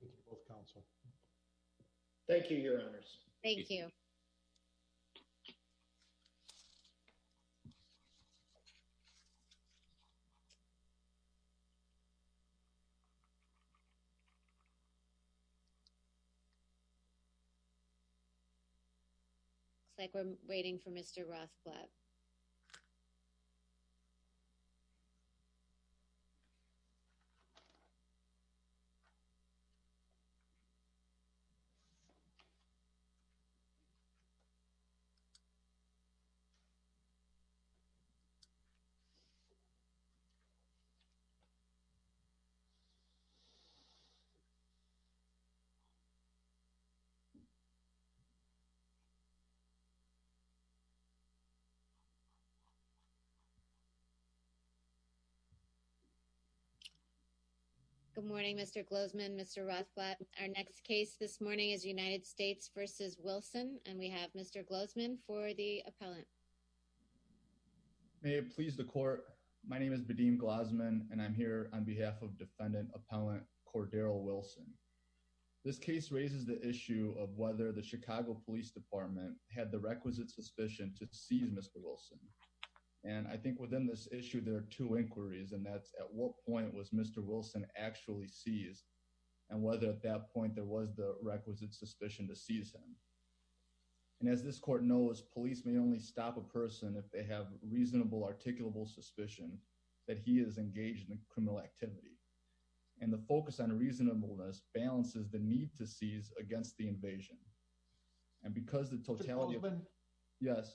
Thank you both counsel. Thank you. Your honors. Thank you. It's like we're waiting for Mr Rothblatt. Good morning, Mr. Glozman, Mr Rothblatt. Our next case this morning is United States versus Wilson. And we have Mr. Glozman for the appellant. May it please the court. My name is Badim Glozman. And I'm here on behalf of defendant appellant Cordarrell Wilson. This case raises the issue of whether the Chicago Police Department had the requisite suspicion to seize Mr. Wilson. And I think within this issue, there are two inquiries. And that's at what point was Mr. Wilson actually seized, and whether at that point there was the requisite suspicion to seize him. And as this court knows, police may only stop a person if they have reasonable articulable suspicion that he is engaged in criminal activity. And the focus on reasonableness balances the need to seize against the invasion. And because the totality of it, yes,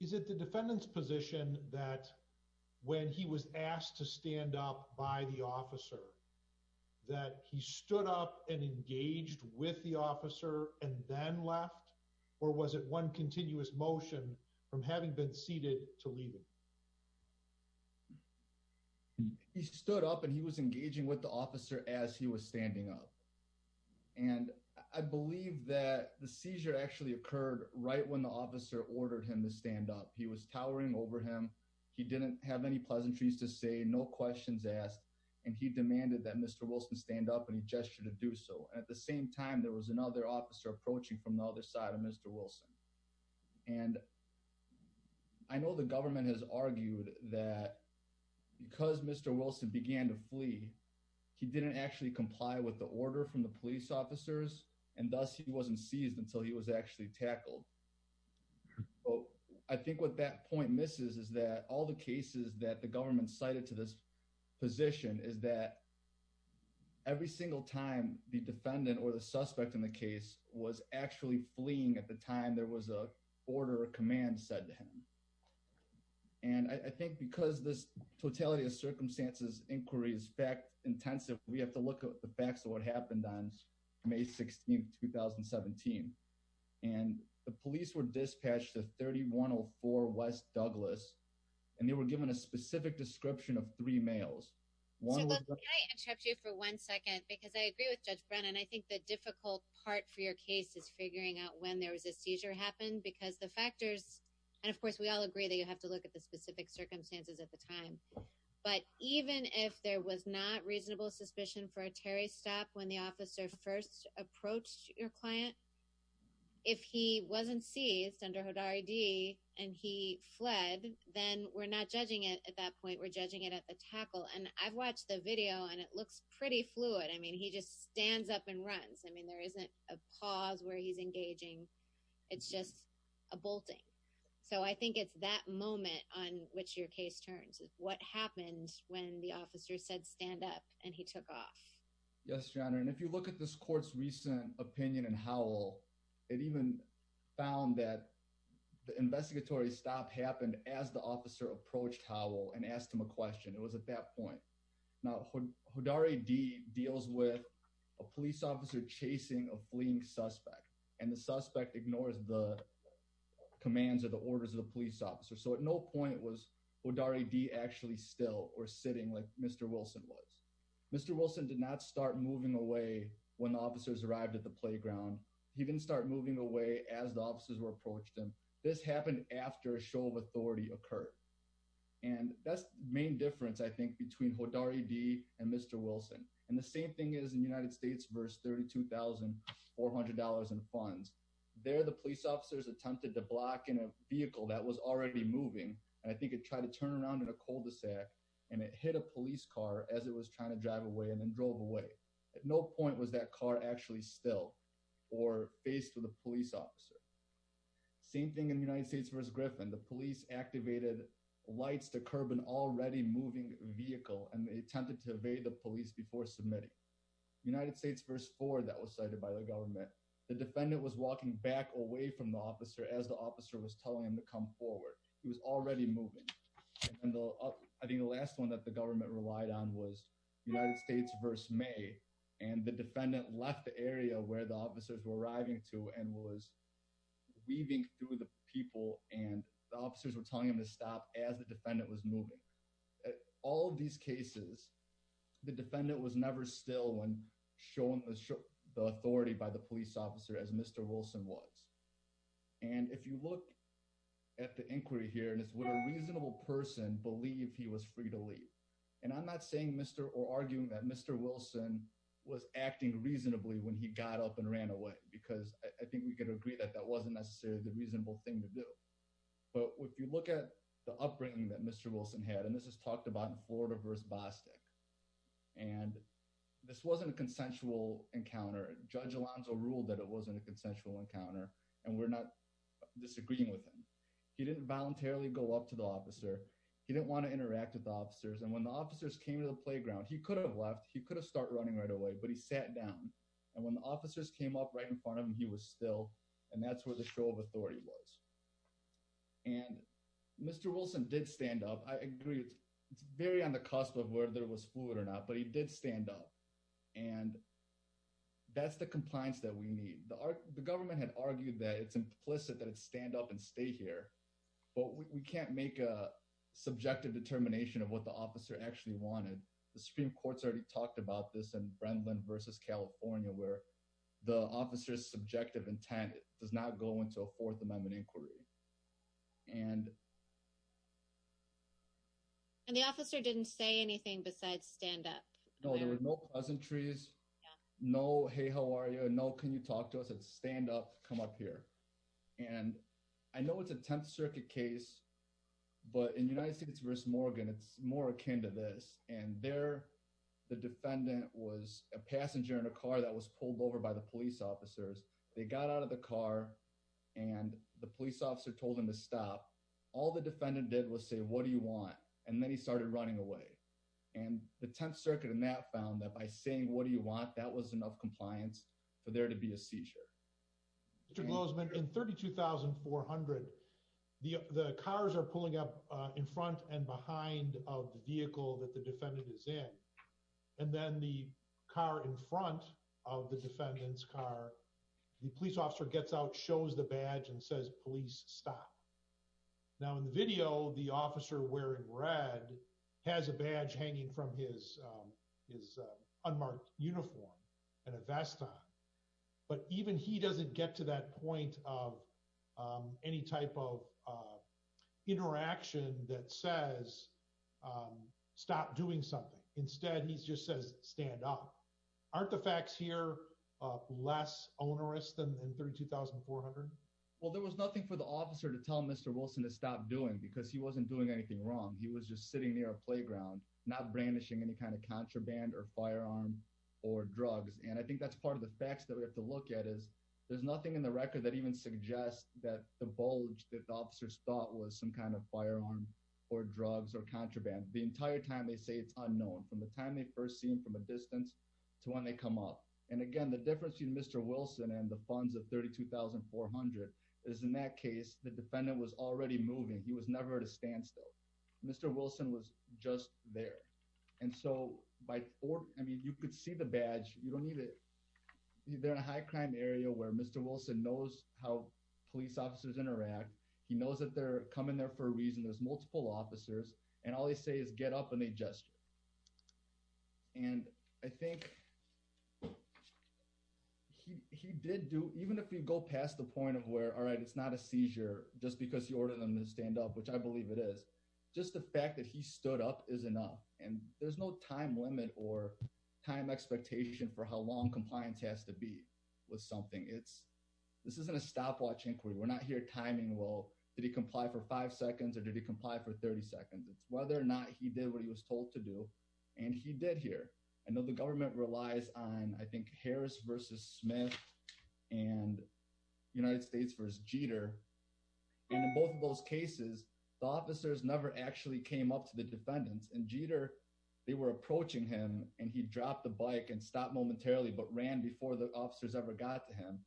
is it the defendant's position that when he was asked to stand up by the officer that he stood up and engaged with the officer and then left? Or was it one continuous motion from having been seated to leave? He stood up and he was engaging with the officer as he was standing up. And I believe that the seizure actually occurred right when the officer ordered him to stand up. He was towering over him. He didn't have any pleasantries to say no questions asked. And he demanded that Mr. Wilson stand up and he gestured to do so. At the same time, there was another officer approaching from the other side of Mr. Wilson. And I know the government has argued that because Mr. Wilson began to flee, he didn't actually comply with the order from the police officers, and thus he wasn't seized until he was actually tackled. I think what that point misses is that all the cases that the government cited to this position is that every single time the defendant or the suspect in the case was actually fleeing at the time there was a order or command said to him. And I think because this totality of circumstances inquiry is fact intensive, we have to look at the facts of what happened on May 16th, 2017. And the police were dispatched to 3104 West Douglas, and they were given a specific description of three males. So let me interrupt you for one second, because I agree with Judge Brennan. I think the difficult part for your case is figuring out when there was a seizure happened because the factors, and of course, we all agree that you have to look at the specific circumstances at the time. But even if there was not reasonable suspicion for a Terry stop when the officer first approached your client, if he wasn't seized under HODAR ID, and he fled, then we're not judging it. At that point, we're judging it at the tackle. And I've watched the video and it looks pretty fluid. I mean, he just stands up and runs. I mean, there isn't a pause where he's engaging. It's just a bolting. So I think it's that moment on which your case turns what happened when the officer said stand up and he took off. Yes, your honor. And if you look at this court's recent opinion and how it even found that the investigatory stop happened as the officer approached how and asked him a question. It was at that point. Now, when HODAR ID deals with a police officer chasing a fleeing suspect, and the suspect ignores the demands of the orders of the police officer. So at no point was HODAR ID actually still or sitting like Mr. Wilson was. Mr. Wilson did not start moving away when officers arrived at the playground. He didn't start moving away as the officers were approached him. This happened after a show of authority occurred. And that's the main difference I think between HODAR ID and Mr. Wilson. And the same thing is in United States verse $32,400 in funds. There the police officers attempted to block in a vehicle that was already moving. And I think it tried to turn around in a cul-de-sac and it hit a police car as it was trying to drive away and then drove away. At no point was that car actually still or faced with a police officer. Same thing in the United States verse Griffin, the police activated lights to curb an already moving vehicle and they attempted to evade the police before submitting United States verse four that was cited by the government. The defendant was walking back away from the officer as the officer was telling him to come forward. He was already moving and I think the last one that the government relied on was United States verse May and the defendant left the area where the officers were arriving to and was weaving through the people and the officers were telling him to stop as the defendant was moving. All of these cases, the defendant was never still and shown the authority by the police officer as Mr. Wilson was. And if you look at the inquiry here and it's what a reasonable person believed he was free to leave and I'm not saying Mr. or arguing that Mr. Wilson was acting reasonably when he got up and ran away because I think we could agree that that wasn't necessarily the reasonable thing to do. But if you look at the upbringing that Mr. Wilson had and this is talked about in Florida verse Bostick and this wasn't a consensual encounter. Judge Alonzo ruled that it wasn't a consensual encounter and we're not disagreeing with him. He didn't voluntarily go up to the officer. He didn't want to interact with officers and when the officers came to the playground, he could have left, he could have start running right away, but he sat down and when the officers came up right in front of him, he was still and that's where the show of authority was and Mr. Wilson did stand up. I agree. It's very on the cusp of where there was fluid or not, but he did stand up and that's the compliance that we need. The government had argued that it's implicit that it's stand up and stay here, but we can't make a subjective determination of what the officer actually wanted. The Supreme Court's already talked about this and Brendan versus California where the officer's subjective intent does not go into a fourth amendment inquiry and and the officer didn't say anything besides stand up. No, there was no pleasantries. No. Hey, how are you? No. Can you talk to us at stand up? Come up here and I know it's a 10th circuit case, but in United States versus Morgan, it's more akin to this and there the defendant was a passenger in a car that was pulled over by the police officers. They got out of the all the defendant did was say, what do you want? And then he started running away and the 10th circuit and that found that by saying, what do you want? That was enough compliance for there to be a seizure. It was been in 32,400. The cars are pulling up in front and behind of the vehicle that the defendant is in. And then the car in front of the defendant's are the police officer gets out, shows the badge and says, police stop now in the video, the officer wearing red has a badge hanging from his his unmarked uniform and a vest on. But even he doesn't get to that point of any type of interaction that says, um, stop doing something. Instead, he just says, stand up. Aren't the facts here less onerous than in 32,400? Well, there was nothing for the officer to tell Mr Wilson to stop doing because he wasn't doing anything wrong. He was just sitting near a playground, not brandishing any kind of contraband or firearm or drugs. And I think that's part of the facts that we have to look at is there's nothing in the record that even suggests that the bulge that the officers thought was some kind of firearm or drugs or contraband the entire time. They say it's unknown from the time they first seen from a distance to when they come up. And again, the difference between Mr Wilson and the funds of 32,400 is in that case, the defendant was already moving. He was never to stand still. Mr Wilson was just there. And so by four, I mean, you could see the badge. You don't need it. They're in a high crime area where Mr Wilson knows how police officers interact. He knows that they're coming there for a reason. There's multiple officers and all they say is get up and they gesture. And I think he did do even if we go past the point of where all right, it's not a seizure just because he ordered them to stand up, which I believe it is just the fact that he stood up is enough and there's no time limit or time expectation for how long compliance has to be with something. It's this isn't a stopwatch inquiry. We're not here timing. Well, did he comply for five seconds or did he comply for 30 seconds? It's whether or not he did what he was told to do, and he did here. I know the government relies on, I think, Harris versus Smith and United States versus Jeter. In both of those cases, the officers never actually came up to the defendants and Jeter. They were approaching him and he dropped the bike and stopped momentarily but ran before the officers ever got to him.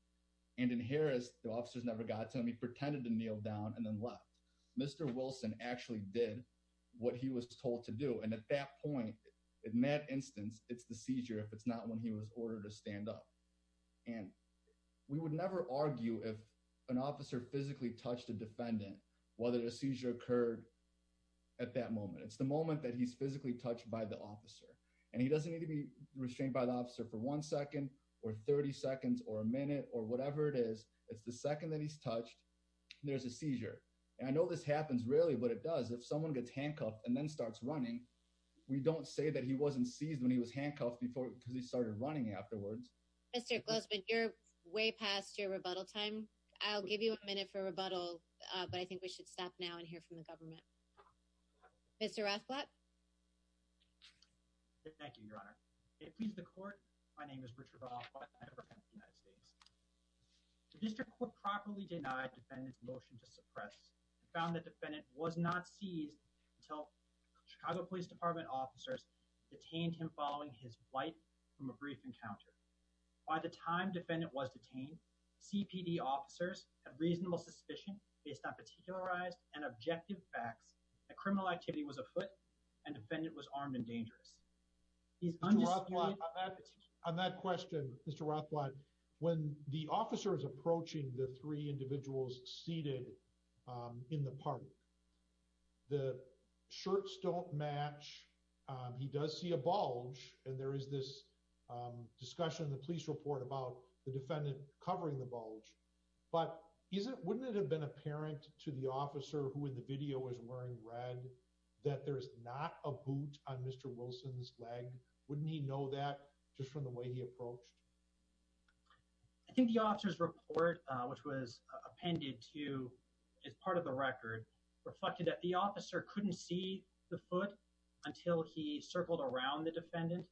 And in Harris, the officers never got to him. He pretended to kneel down and then left. Mr Wilson actually did what he was told to do. And at that point, in that instance, it's the seizure. If it's not when he was ordered to stand up and we would never argue if an officer physically touched a defendant, whether the seizure occurred at that moment, it's the moment that he's physically touched by the officer and he doesn't need to be restrained by the officer for one second or 30 seconds or a minute or whatever it is. It's the second that he's touched. There's a seizure. And I know this happens rarely, but it does. If someone gets handcuffed and then starts running, we don't say that he wasn't seized when he was handcuffed before because he started running afterwards. Mr Glusman, you're way past your rebuttal time. I'll give you a minute for rebuttal, but I think we should stop now and hear from the government. Mr Rathblat. Thank you, Your Honor. It pleases the court. My name is Richard Rathblat and I represent the United States. The district court properly denied the defendant's motion to suppress. I found the defendant was not seized until Chicago Police Department officers detained him following his flight from a brief encounter. By the time defendant was detained, CPD officers have reasonable suspicion based on particularized and objective facts that criminal activity was afoot and defendant was armed and dangerous. On that question, Mr Rathblat, when the officer is approaching the three individuals seated in the park, the shirts don't match. He does see a bulge and there is this discussion in the police report about the defendant covering the bulge. But wouldn't it have been apparent to the officer who in the video was wearing red that there is not a boot on Mr Wilson's leg? Wouldn't he know that just from the way he approached? I think the officer's report, which was appended to as part of the record, reflected that the officer couldn't see the foot until he circled around the defendant.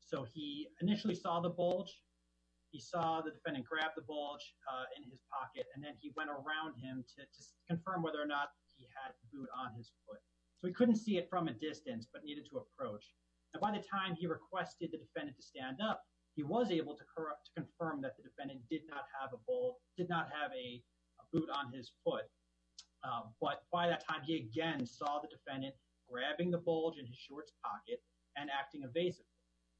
So he initially saw the bulge. He saw the defendant grabbed the bulge in his pocket, and then he went around him to confirm whether or not he had a boot on his foot. So he couldn't see it from a distance but needed to approach. And by the time he requested the defendant to stand up, he was able to confirm that the defendant did not have a boot on his foot. But by that time, he again saw the defendant grabbing the bulge in his shorts pocket and acting evasively.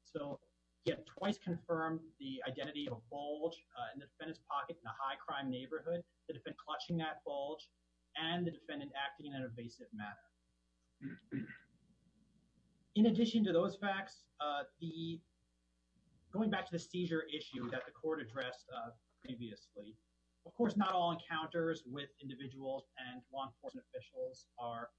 So he had twice confirmed the identity of a bulge in the defendant's pocket in a high crime neighborhood that had been an evasive manner. In addition to those facts, going back to the seizure issue that the court addressed previously, of course, not all encounters with individuals and law enforcement officials are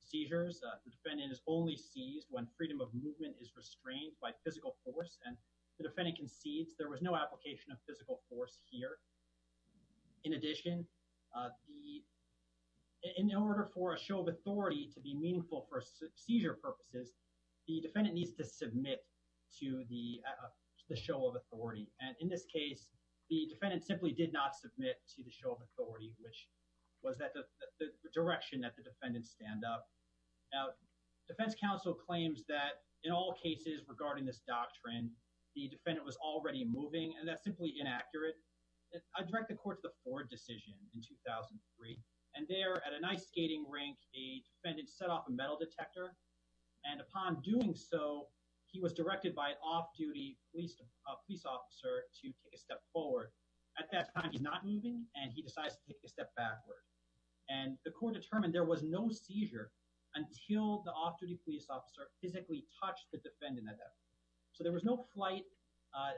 seizures. The defendant is only seized when freedom of movement is restrained by physical force and the defendant concedes there was no application of physical force here. In addition, in order for a show of authority to be meaningful for seizure purposes, the defendant needs to submit to the show of authority. And in this case, the defendant simply did not submit to the show of authority, which was the direction that the defendant stand up. Now, defense counsel claims that in all cases regarding this doctrine, the defendant was already moving, and that's simply inaccurate. I direct the court to the Ford decision in 2003. And there at a nice skating rink, a defendant set off a metal detector. And upon doing so, he was directed by an off-duty police officer to take a step forward. At that time, he's not moving, and he decides to take a step backward. And the court determined there was no seizure until the off-duty police officer physically touched the defendant. So there was no flight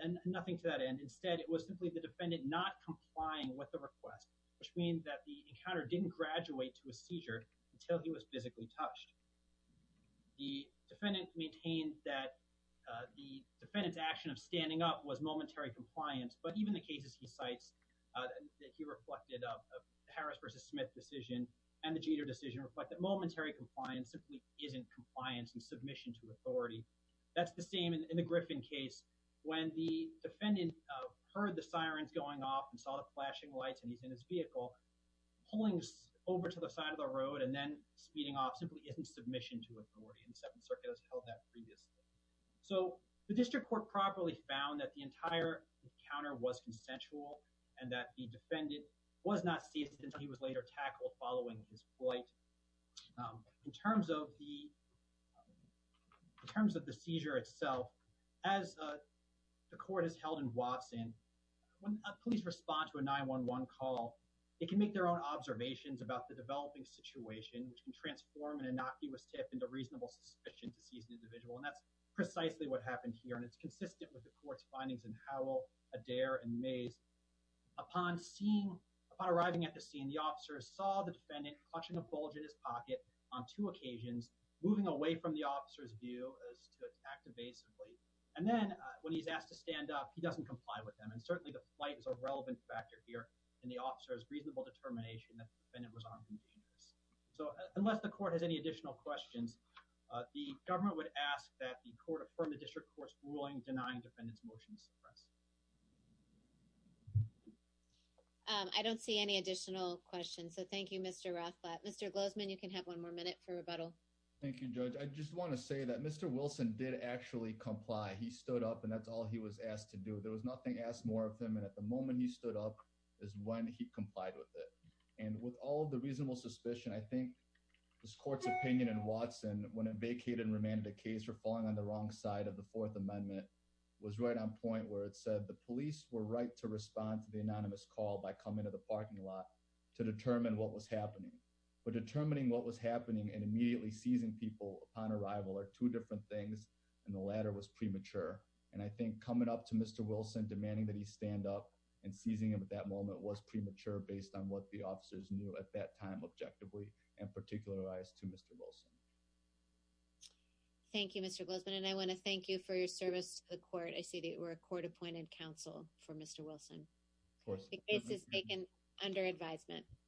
and nothing to that end. Instead, it was simply the defendant not complying with the request, which means that the encounter didn't graduate to a seizure until he was physically touched. The defendant maintained that the defendant's action of standing up was momentary compliance. But even the cases he cites that he reflected of the Harris v. Smith decision and the Jeter decision reflect that momentary compliance simply isn't compliance and submission to authority. That's the same in the Griffin case. When the defendant is in his vehicle, pulling over to the side of the road and then speeding off simply isn't submission to authority. And the Second Circuit has held that previously. So the district court properly found that the entire encounter was consensual and that the defendant was not seized until he was later tackled following his flight. In terms of the seizure itself, as the District Court found, it's consistent with the court's findings in Howell, Adair, and Mays. Upon arriving at the scene, the officer saw the defendant clutching a bulge in his pocket on two occasions, moving away from the officer's view as to act evasively. And then when he's asked to stand up, he the officer's reasonable determination that the defendant was on conditioners. So unless the court has any additional questions, the government would ask that the court affirm the district court's ruling denying the defendant's motion to suppress. I don't see any additional questions, so thank you, Mr. Rothblatt. Mr. Glozman, you can have one more minute for rebuttal. Thank you, Judge. I just want to say that Mr. Wilson did actually comply. He stood up and that's all he was asked to do. There was nothing asked more of him and at the moment he stood up is when he complied with it. And with all the reasonable suspicion, I think this court's opinion in Watson, when it vacated and remanded a case for falling on the wrong side of the Fourth Amendment, was right on point where it said the police were right to respond to the anonymous call by coming to the parking lot to determine what was happening. But determining what was happening and immediately seizing people upon arrival are two different things and the latter was premature. And I think coming up to Mr. Wilson, demanding that he stand up and seizing him at that moment was premature based on what the officers knew at that time objectively and particularized to Mr. Wilson. Thank you, Mr. Glozman, and I want to thank you for your service to the court. I see that you were a court-appointed counsel for Mr. Wilson. The case is taken under advisement.